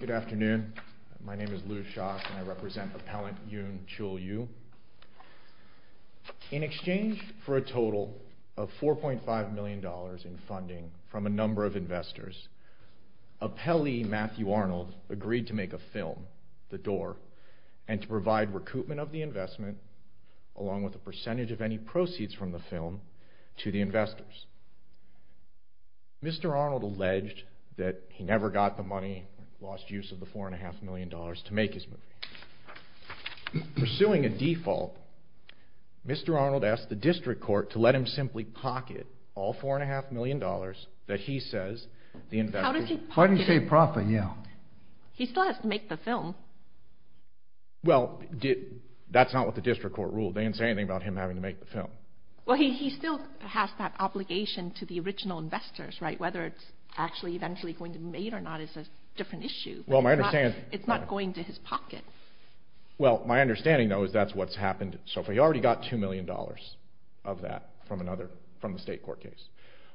Good afternoon. My name is Lou Schock and I represent Appellant Yoon Chul-Yoo. In exchange for a total of $4.5 million in funding from a number of investors, appellee Matthew Arnold agreed to make a film, The Door, and to provide recoupment of the investment, along with a percentage of any proceeds from the film, to the investors. Mr. Arnold alleged that he never got the money, lost use of the $4.5 million, to make his movie. Pursuing a default, Mr. Arnold asked the district court to let him simply pocket all $4.5 million that he says the investors... How did he pocket it? Why did he say profit? Yeah. He still has to make the film. Well, that's not what the district court ruled. They didn't say anything about him having to make the film. Well, he still has that obligation to the original investors, right? Whether it's actually eventually going to be made or not is a different issue. Well, my understanding... It's not going to his pocket. Well, my understanding, though, is that's what's happened so far. He already got $2 million of that from the state court case.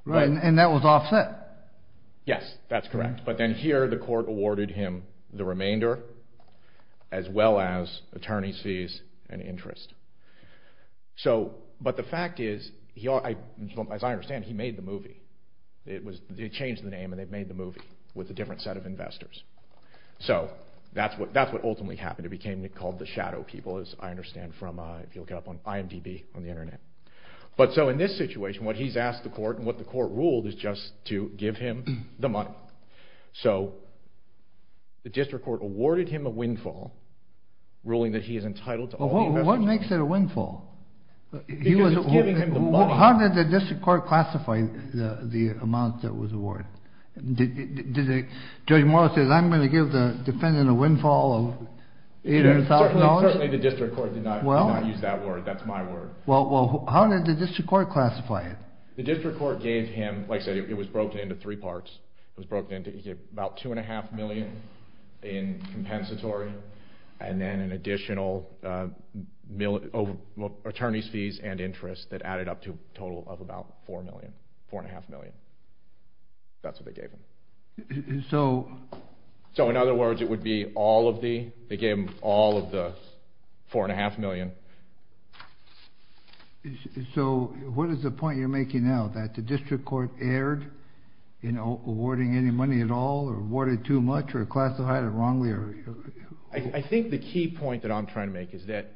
Right, and that was offset. Yes, that's correct. But then here, the court awarded him the remainder, as well as attorney's fees and interest. But the fact is, as I understand, he made the movie. They changed the name, and they made the movie with a different set of investors. So that's what ultimately happened. It became called The Shadow People, as I understand from IMDB on the Internet. But so in this situation, what he's asked the court, and what the court ruled, is just to give him the money. So the district court awarded him a windfall, ruling that he is entitled to all the investors' money. What makes it a windfall? Because it's giving him the money. How did the district court classify the amount that was awarded? Did Judge Morris say, I'm going to give the defendant a windfall of $8,000? Certainly the district court did not use that word. That's my word. Well, how did the district court classify it? The district court gave him, like I said, it was broken into three parts. It was broken into about $2.5 million in compensatory, and then an additional attorney's fees and interest that added up to a total of about $4.5 million. That's what they gave him. So in other words, it would be all of the, they gave him all of the $4.5 million. So what is the point you're making now, that the district court erred in awarding any money at all, or awarded too much, or classified it wrongly? I think the key point that I'm trying to make is that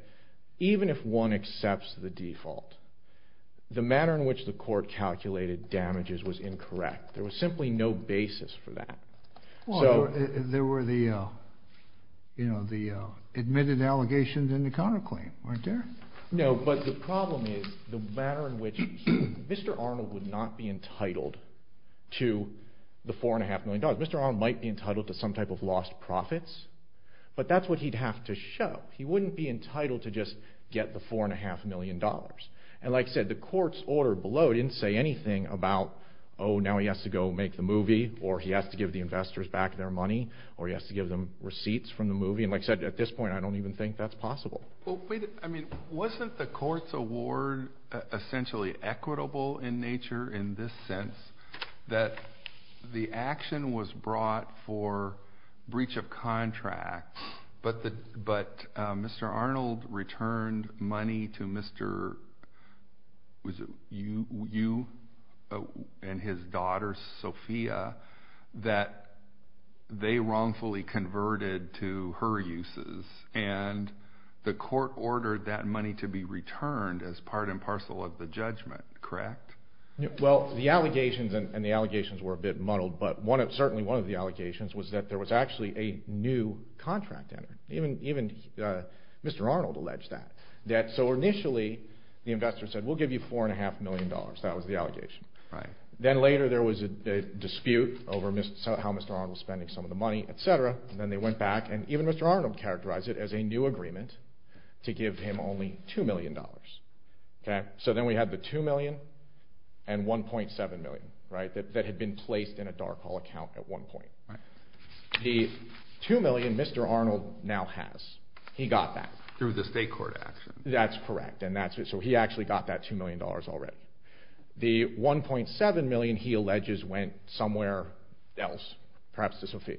even if one accepts the default, the manner in which the court calculated damages was incorrect. There was simply no basis for that. There were the admitted allegations and the counterclaim, weren't there? No, but the problem is the manner in which Mr. Arnold would not be entitled to the $4.5 million. Mr. Arnold might be entitled to some type of lost profits, but that's what he'd have to show. He wouldn't be entitled to just get the $4.5 million. And like I said, the court's order below didn't say anything about, oh, now he has to go make the movie, or he has to give the investors back their money, or he has to give them receipts from the movie. And like I said, at this point I don't even think that's possible. I mean, wasn't the court's award essentially equitable in nature in this sense, that the action was brought for breach of contract, but Mr. Arnold returned money to you and his daughter, Sophia, that they wrongfully converted to her uses, and the court ordered that money to be returned as part and parcel of the judgment, correct? Well, the allegations, and the allegations were a bit muddled, but certainly one of the allegations was that there was actually a new contract entered. Even Mr. Arnold alleged that. So initially the investor said, we'll give you $4.5 million. That was the allegation. Then later there was a dispute over how Mr. Arnold was spending some of the money, et cetera, and then they went back, and even Mr. Arnold characterized it as a new agreement to give him only $2 million. So then we had the $2 million and $1.7 million that had been placed in a dark hole account at one point. The $2 million Mr. Arnold now has, he got that. Through the state court action. That's correct. So he actually got that $2 million already. The $1.7 million, he alleges, went somewhere else, perhaps to Sophia.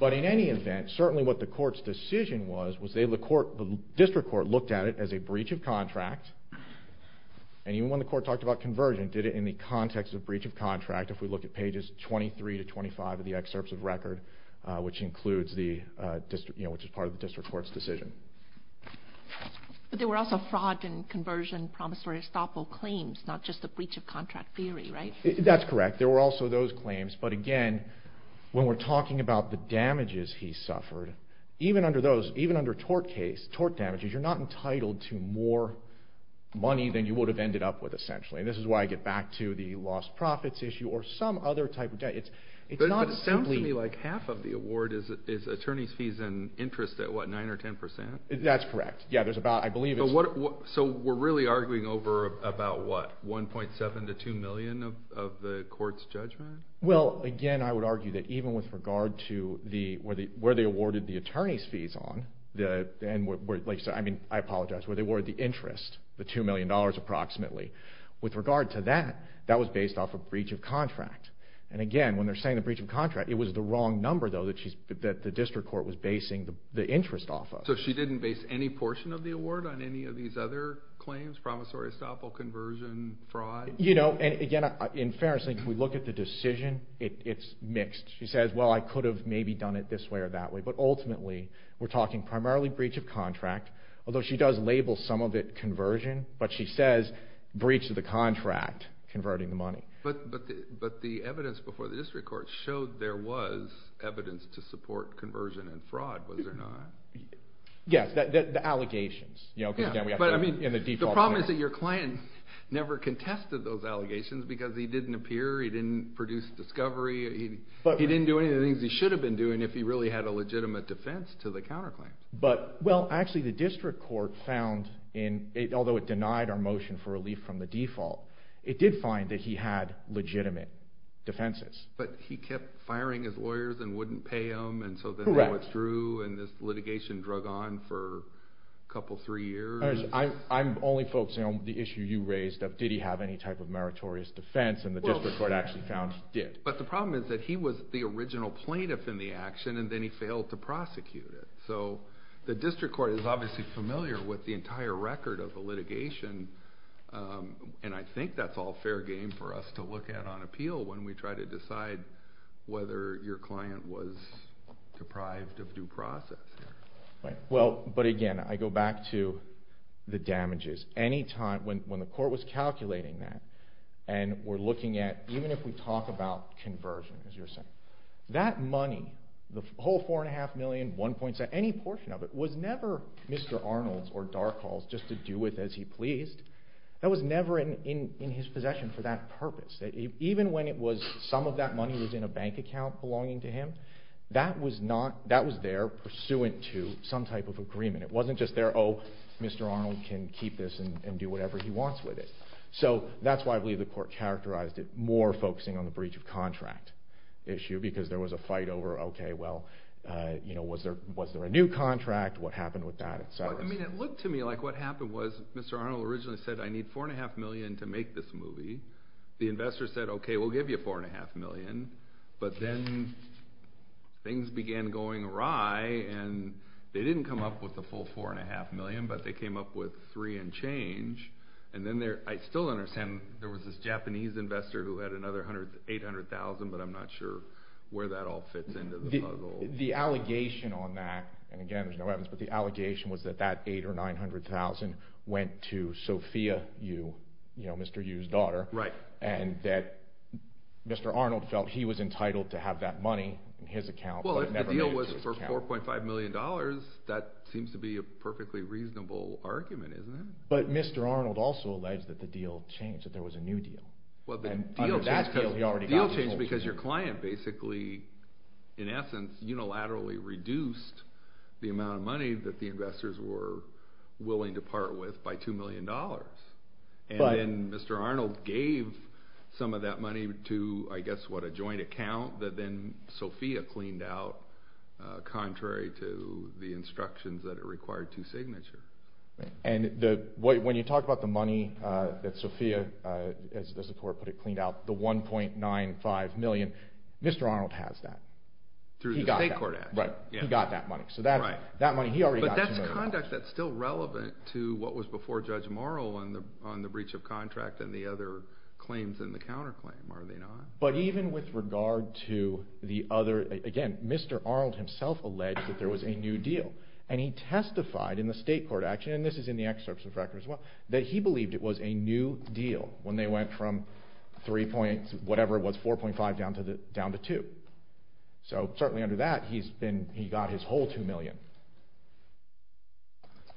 But in any event, certainly what the court's decision was, the district court looked at it as a breach of contract, and even when the court talked about conversion, did it in the context of breach of contract, if we look at pages 23 to 25 of the excerpts of record, which is part of the district court's decision. But there were also fraud and conversion promissory estoppel claims, not just the breach of contract theory, right? That's correct. There were also those claims. But again, when we're talking about the damages he suffered, even under tort damages, you're not entitled to more money than you would have ended up with, essentially. And this is why I get back to the lost profits issue or some other type of debt. But it sounds to me like half of the award is attorney's fees and interest at, what, 9% or 10%? That's correct. So we're really arguing over about, what, 1.7 to 2 million of the court's judgment? Well, again, I would argue that even with regard to where they awarded the attorney's fees on, I apologize, where they awarded the interest, the $2 million approximately, with regard to that, that was based off a breach of contract. And again, when they're saying the breach of contract, it was the wrong number, though, that the district court was basing the interest off of. So she didn't base any portion of the award on any of these other claims? Promissory estoppel, conversion, fraud? You know, and again, in fairness, if we look at the decision, it's mixed. She says, well, I could have maybe done it this way or that way. But ultimately, we're talking primarily breach of contract, although she does label some of it conversion, but she says breach of the contract, converting the money. But the evidence before the district court showed there was evidence to support conversion and fraud, was there not? Yes, the allegations. The problem is that your client never contested those allegations because he didn't appear, he didn't produce discovery. He didn't do any of the things he should have been doing if he really had a legitimate defense to the counterclaims. Well, actually, the district court found, although it denied our motion for relief from the default, it did find that he had legitimate defenses. But he kept firing his lawyers and wouldn't pay them. Correct. And then withdrew and this litigation drug on for a couple, three years. I'm only focusing on the issue you raised of did he have any type of meritorious defense, and the district court actually found he did. But the problem is that he was the original plaintiff in the action, and then he failed to prosecute it. So the district court is obviously familiar with the entire record of the litigation, and I think that's all fair game for us to look at on appeal when we try to decide whether your client was deprived of due process. Well, but again, I go back to the damages. When the court was calculating that, and we're looking at, even if we talk about conversion, as you were saying, that money, the whole $4.5 million, $1.7 million, any portion of it was never Mr. Arnold's or Dark Hall's just to do with as he pleased. That was never in his possession for that purpose. Even when some of that money was in a bank account belonging to him, that was there pursuant to some type of agreement. It wasn't just there, oh, Mr. Arnold can keep this and do whatever he wants with it. So that's why I believe the court characterized it more focusing on the breach of contract issue, because there was a fight over, okay, well, was there a new contract, what happened with that, et cetera. I mean, it looked to me like what happened was Mr. Arnold originally said, I need $4.5 million to make this movie. The investor said, okay, we'll give you $4.5 million. But then things began going awry, and they didn't come up with the full $4.5 million, but they came up with three and change. And then I still understand there was this Japanese investor who had another $800,000, but I'm not sure where that all fits into the puzzle. The allegation on that, and again, there's no evidence, but the allegation was that that $800,000 or $900,000 went to Sophia Yu, Mr. Yu's daughter. Right. And that Mr. Arnold felt he was entitled to have that money in his account. Well, if the deal was for $4.5 million, that seems to be a perfectly reasonable argument, isn't it? But Mr. Arnold also alleged that the deal changed, that there was a new deal. Well, the deal changed because your client basically, in essence, unilaterally reduced the amount of money that the investors were willing to part with by $2 million. And then Mr. Arnold gave some of that money to, I guess, what, a joint account that then Sophia cleaned out, contrary to the instructions that it required to signature. Right. And when you talk about the money that Sophia, as the court put it, cleaned out, the $1.95 million, Mr. Arnold has that. Through the state court action. Right. He got that money. Right. So that money, he already got $2 million. But that's conduct that's still relevant to what was before Judge Morrill on the breach of contract and the other claims in the counterclaim, are they not? But even with regard to the other, again, Mr. Arnold himself alleged that there was a new deal. And he testified in the state court action, and this is in the excerpts of the record as well, that he believed it was a new deal when they went from 3 point, whatever it was, 4.5 down to 2. So certainly under that, he's been, he got his whole $2 million.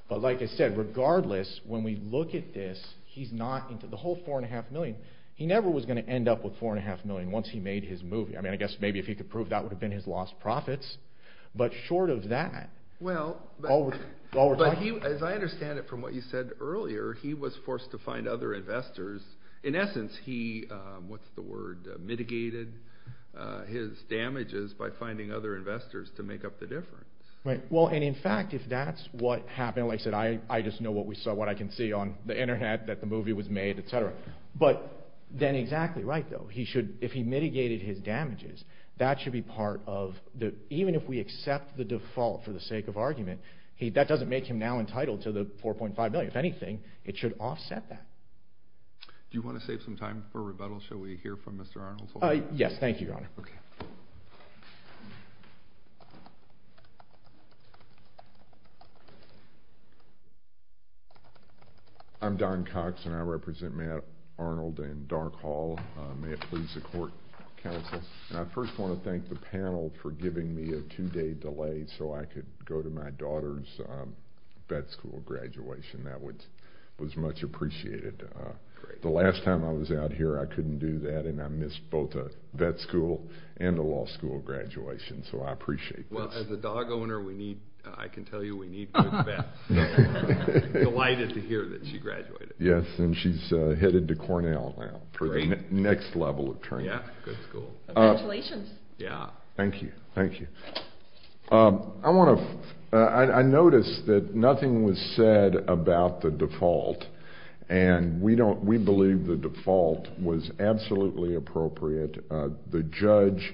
But like I said, regardless, when we look at this, he's not into the whole $4.5 million. He never was going to end up with $4.5 million once he made his movie. I mean, I guess maybe if he could prove that would have been his lost profits. But short of that. Well, as I understand it from what you said earlier, he was forced to find other investors. In essence, he, what's the word, mitigated his damages by finding other investors to make up the difference. Right. Well, and in fact, if that's what happened, like I said, I just know what we saw, what I can see on the Internet, that the movie was made, etc. But then exactly right, though. He should, if he mitigated his damages, that should be part of the, even if we accept the default for the sake of argument, that doesn't make him now entitled to the $4.5 million. If anything, it should offset that. Do you want to save some time for rebuttal? Shall we hear from Mr. Arnold? Yes, thank you, Your Honor. Okay. I'm Don Cox, and I represent Matt Arnold in Dark Hall. May it please the court, counsel. And I first want to thank the panel for giving me a two-day delay so I could go to my daughter's vet school graduation. That was much appreciated. The last time I was out here, I couldn't do that, and I missed both a vet school and a law school graduation, so I appreciate this. Well, as a dog owner, we need, I can tell you, we need good vets. Delighted to hear that she graduated. Yes, and she's headed to Cornell now for the next level of training. Yeah, good school. Congratulations. Yeah. Thank you. Thank you. I want to, I noticed that nothing was said about the default, and we believe the default was absolutely appropriate. The judge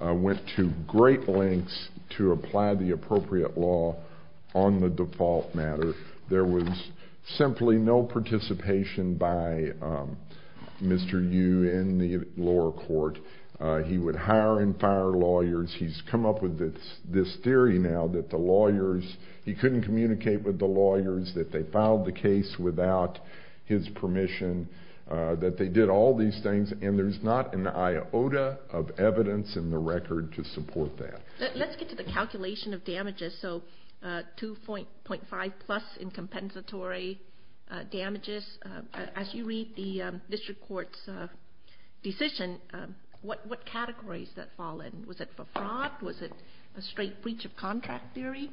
went to great lengths to apply the appropriate law on the default matter. There was simply no participation by Mr. Yu in the lower court. He would hire and fire lawyers. He's come up with this theory now that the lawyers, he couldn't communicate with the lawyers, that they filed the case without his permission, that they did all these things. And there's not an iota of evidence in the record to support that. Let's get to the calculation of damages, so 2.5 plus in compensatory damages. As you read the district court's decision, what categories did that fall in? Was it for fraud? Was it a straight breach of contract theory?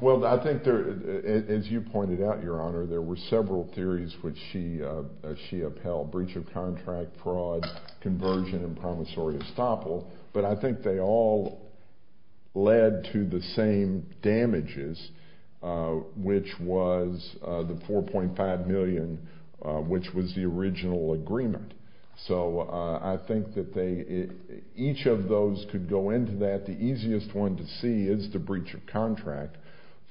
Well, I think, as you pointed out, Your Honor, there were several theories which she upheld, breach of contract, fraud, conversion, and promissory estoppel. But I think they all led to the same damages, which was the 4.5 million, which was the original agreement. So I think that each of those could go into that. The easiest one to see is the breach of contract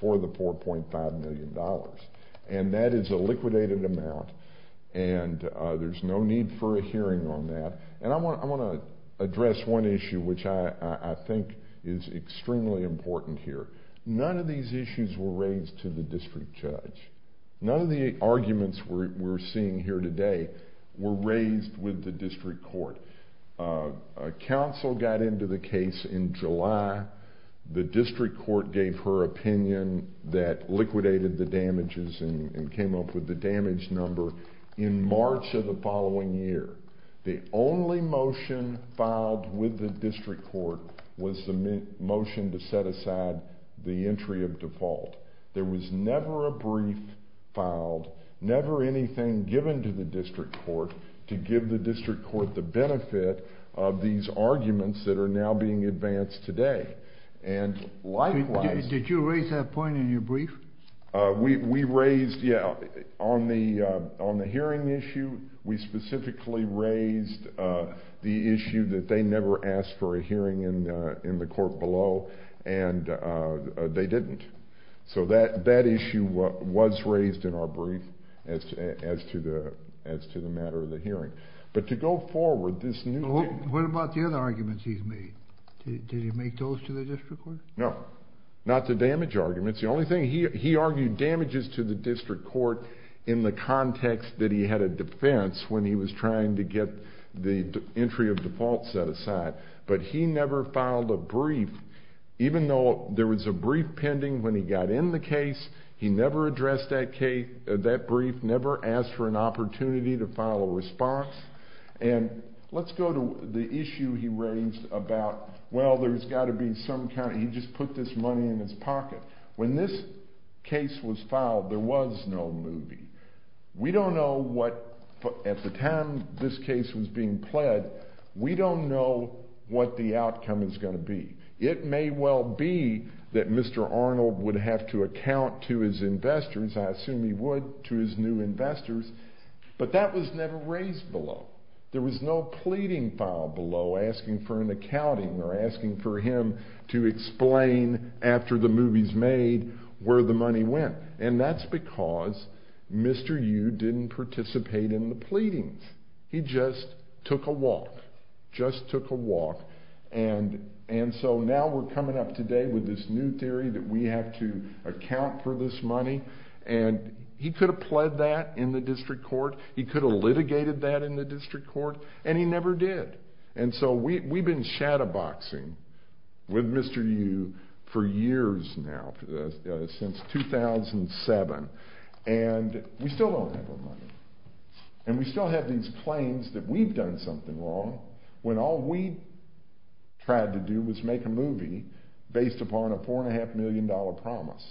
for the $4.5 million. And that is a liquidated amount, and there's no need for a hearing on that. And I want to address one issue, which I think is extremely important here. None of these issues were raised to the district judge. None of the arguments we're seeing here today were raised with the district court. A counsel got into the case in July. The district court gave her opinion that liquidated the damages and came up with the damage number in March of the following year. The only motion filed with the district court was the motion to set aside the entry of default. There was never a brief filed, never anything given to the district court to give the district court the benefit of these arguments that are now being advanced today. And likewise— Did you raise that point in your brief? We raised—yeah, on the hearing issue, we specifically raised the issue that they never asked for a hearing in the court below, and they didn't. So that issue was raised in our brief as to the matter of the hearing. But to go forward, this new— What about the other arguments he's made? Did he make those to the district court? No. Not the damage arguments. The only thing—he argued damages to the district court in the context that he had a defense when he was trying to get the entry of default set aside. But he never filed a brief, even though there was a brief pending when he got in the case. He never addressed that brief, never asked for an opportunity to file a response. And let's go to the issue he raised about, well, there's got to be some kind of—he just put this money in his pocket. When this case was filed, there was no movie. We don't know what—at the time this case was being pled, we don't know what the outcome is going to be. It may well be that Mr. Arnold would have to account to his investors. I assume he would to his new investors. But that was never raised below. There was no pleading file below asking for an accounting or asking for him to explain after the movie's made where the money went. And that's because Mr. Yu didn't participate in the pleadings. He just took a walk, just took a walk. And so now we're coming up today with this new theory that we have to account for this money. And he could have pled that in the district court. He could have litigated that in the district court. And he never did. And so we've been shadowboxing with Mr. Yu for years now, since 2007. And we still don't have our money. And we still have these claims that we've done something wrong when all we tried to do was make a movie based upon a $4.5 million promise.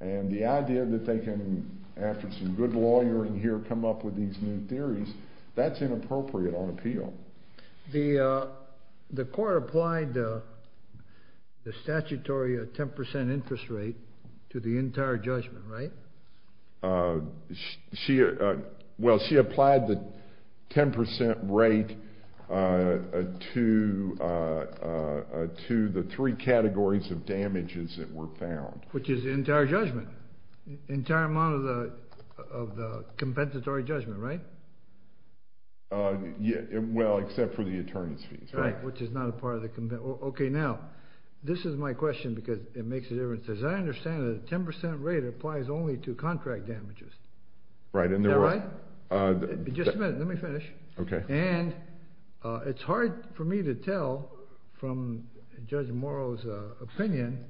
And the idea that they can, after some good lawyering here, come up with these new theories, that's inappropriate on appeal. The court applied the statutory 10 percent interest rate to the entire judgment, right? Well, she applied the 10 percent rate to the three categories of damages that were found. Which is the entire judgment, the entire amount of the compensatory judgment, right? Well, except for the attorney's fees. Right, which is not a part of the – okay, now, this is my question because it makes a difference. As I understand it, the 10 percent rate applies only to contract damages. Right. Is that right? Just a minute. Let me finish. Okay. And it's hard for me to tell from Judge Morrow's opinion,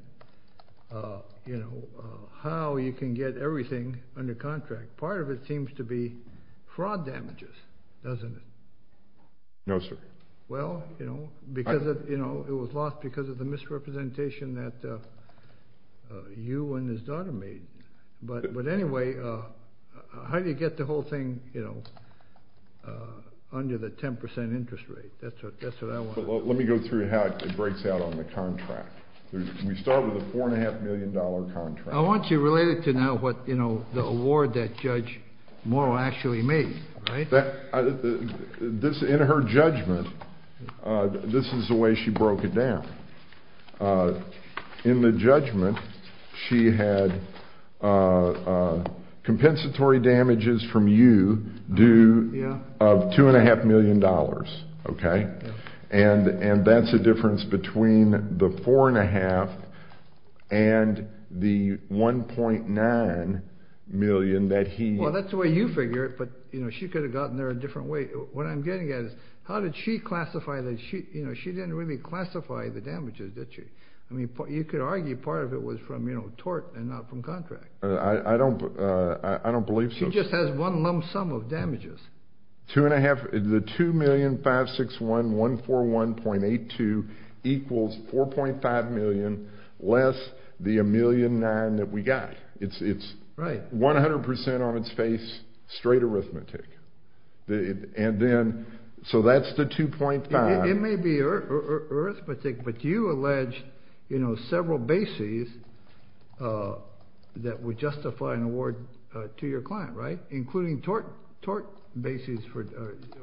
you know, how you can get everything under contract. Part of it seems to be fraud damages, doesn't it? No, sir. Well, you know, because of, you know, it was lost because of the misrepresentation that you and his daughter made. But anyway, how do you get the whole thing, you know, under the 10 percent interest rate? That's what I want to know. Let me go through how it breaks out on the contract. We start with a $4.5 million contract. I want you related to now what, you know, the award that Judge Morrow actually made, right? In her judgment, this is the way she broke it down. In the judgment, she had compensatory damages from you due of $2.5 million, okay? And that's the difference between the 4.5 and the 1.9 million that he – What I'm getting at is how did she classify the – you know, she didn't really classify the damages, did she? I mean, you could argue part of it was from, you know, tort and not from contract. I don't believe so. She just has one lump sum of damages. Two and a half – the $2,561,141.82 equals $4.5 million less the $1,000,009 that we got. It's 100 percent on its face, straight arithmetic. And then – so that's the 2.5. It may be arithmetic, but you allege, you know, several bases that would justify an award to your client, right? Including tort bases for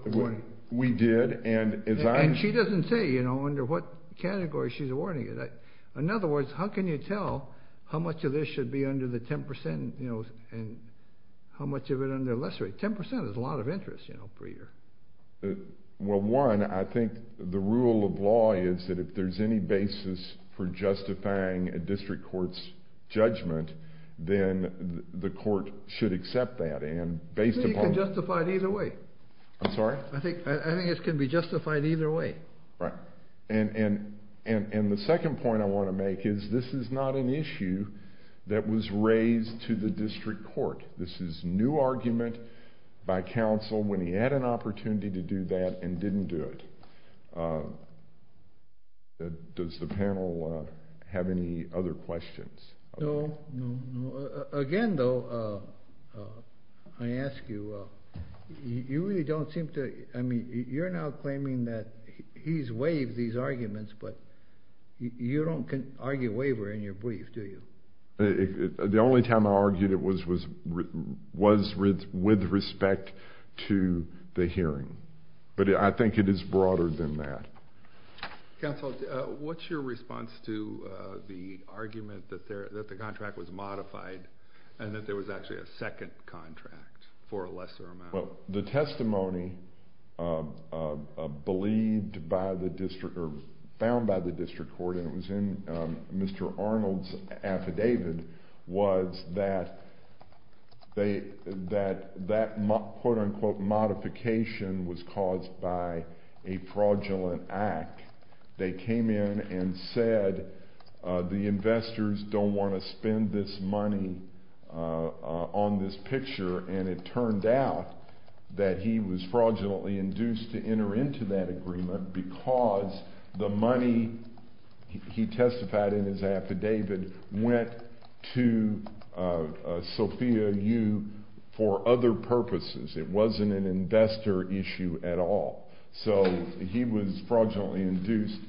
awarding. We did, and as I – And she doesn't say, you know, under what category she's awarding it. In other words, how can you tell how much of this should be under the 10 percent, you know, and how much of it under a lesser rate? Because 10 percent is a lot of interest, you know, for your – Well, one, I think the rule of law is that if there's any basis for justifying a district court's judgment, then the court should accept that. And based upon – I think you can justify it either way. I'm sorry? I think it can be justified either way. Right. And the second point I want to make is this is not an issue that was raised to the district court. This is new argument by counsel when he had an opportunity to do that and didn't do it. Does the panel have any other questions? No, no, no. Again, though, I ask you, you really don't seem to – I mean, you're now claiming that he's waived these arguments, but you don't argue waiver in your brief, do you? The only time I argued it was with respect to the hearing. But I think it is broader than that. Counsel, what's your response to the argument that the contract was modified and that there was actually a second contract for a lesser amount? Well, the testimony believed by the district or found by the district court, and it was in Mr. Arnold's affidavit, was that that quote-unquote modification was caused by a fraudulent act. They came in and said the investors don't want to spend this money on this picture, and it turned out that he was fraudulently induced to enter into that agreement because the money he testified in his affidavit went to Sophia Yu for other purposes. It wasn't an investor issue at all. So he was fraudulently induced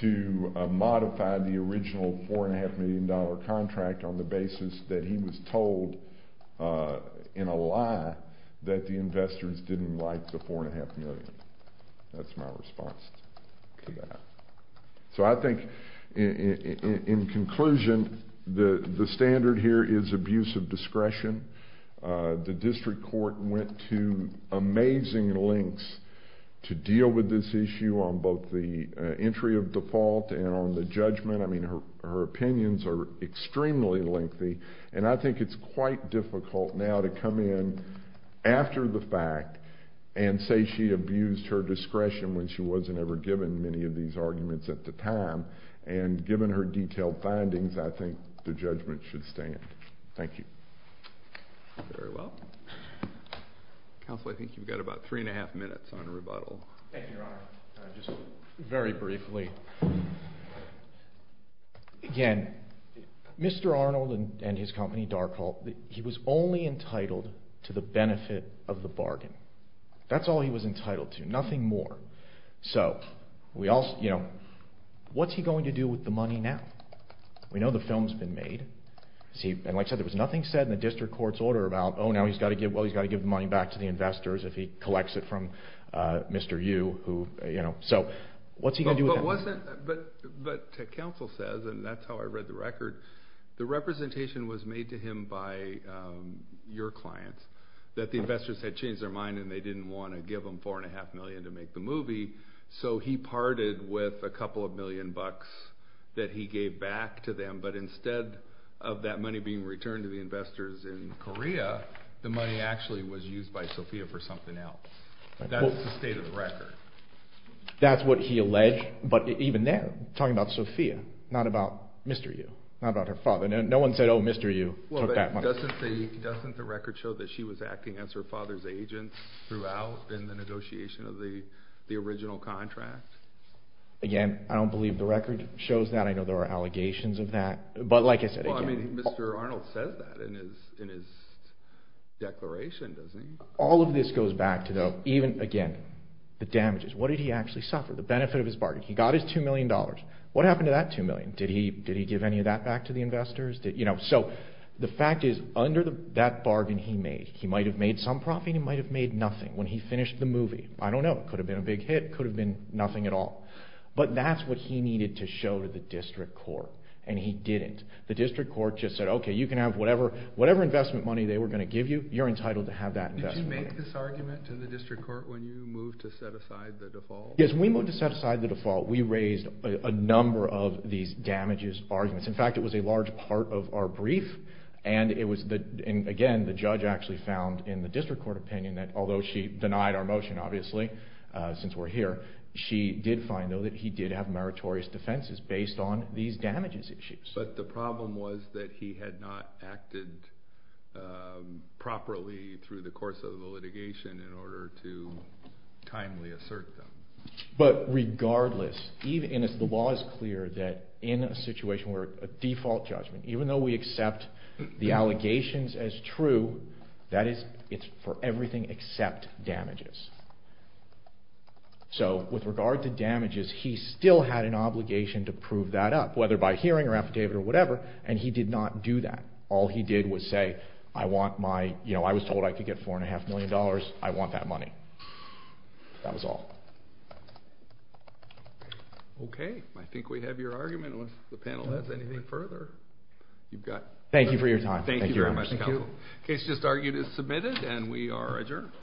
to modify the original $4.5 million contract on the basis that he was told in a lie that the investors didn't like the $4.5 million. That's my response to that. So I think in conclusion, the standard here is abuse of discretion. The district court went to amazing lengths to deal with this issue on both the entry of default and on the judgment. I mean, her opinions are extremely lengthy, and I think it's quite difficult now to come in after the fact and say she abused her discretion when she wasn't ever given many of these arguments at the time. And given her detailed findings, I think the judgment should stand. Thank you. Thank you very well. Counsel, I think you've got about three and a half minutes on rebuttal. Thank you, Your Honor. Just very briefly, again, Mr. Arnold and his company, Darkhall, he was only entitled to the benefit of the bargain. That's all he was entitled to, nothing more. So what's he going to do with the money now? We know the film's been made. And like I said, there was nothing said in the district court's order about, oh, now he's got to give the money back to the investors if he collects it from Mr. Yu. So what's he going to do with that? But counsel says, and that's how I read the record, the representation was made to him by your clients, that the investors had changed their mind and they didn't want to give him $4.5 million to make the movie, so he parted with a couple of million bucks that he gave back to them, but instead of that money being returned to the investors in Korea, the money actually was used by Sophia for something else. That's the state of the record. That's what he alleged, but even then, talking about Sophia, not about Mr. Yu, not about her father. No one said, oh, Mr. Yu took that money. Doesn't the record show that she was acting as her father's agent throughout in the negotiation of the original contract? Again, I don't believe the record shows that. I know there are allegations of that. But like I said, again. Well, I mean, Mr. Arnold says that in his declaration, doesn't he? All of this goes back to, again, the damages. What did he actually suffer? The benefit of his bargain. He got his $2 million. What happened to that $2 million? Did he give any of that back to the investors? So the fact is, under that bargain he made, he might have made some profit. He might have made nothing when he finished the movie. I don't know. It could have been a big hit. It could have been nothing at all. But that's what he needed to show to the district court, and he didn't. The district court just said, okay, you can have whatever investment money they were going to give you. You're entitled to have that investment money. Did you make this argument to the district court when you moved to set aside the default? Yes, when we moved to set aside the default, we raised a number of these damages arguments. In fact, it was a large part of our brief, and it was, again, the judge actually found in the district court opinion that although she denied our motion, obviously, since we're here, she did find, though, that he did have meritorious defenses based on these damages issues. But the problem was that he had not acted properly through the course of the litigation in order to timely assert them. But regardless, the law is clear that in a situation where a default judgment, even though we accept the allegations as true, that is for everything except damages. So with regard to damages, he still had an obligation to prove that up, whether by hearing or affidavit or whatever, and he did not do that. All he did was say, I was told I could get $4.5 million. I want that money. That was all. Okay. I think we have your argument. If the panel has anything further, you've got it. Thank you for your time. Thank you very much. The case just argued is submitted, and we are adjourned.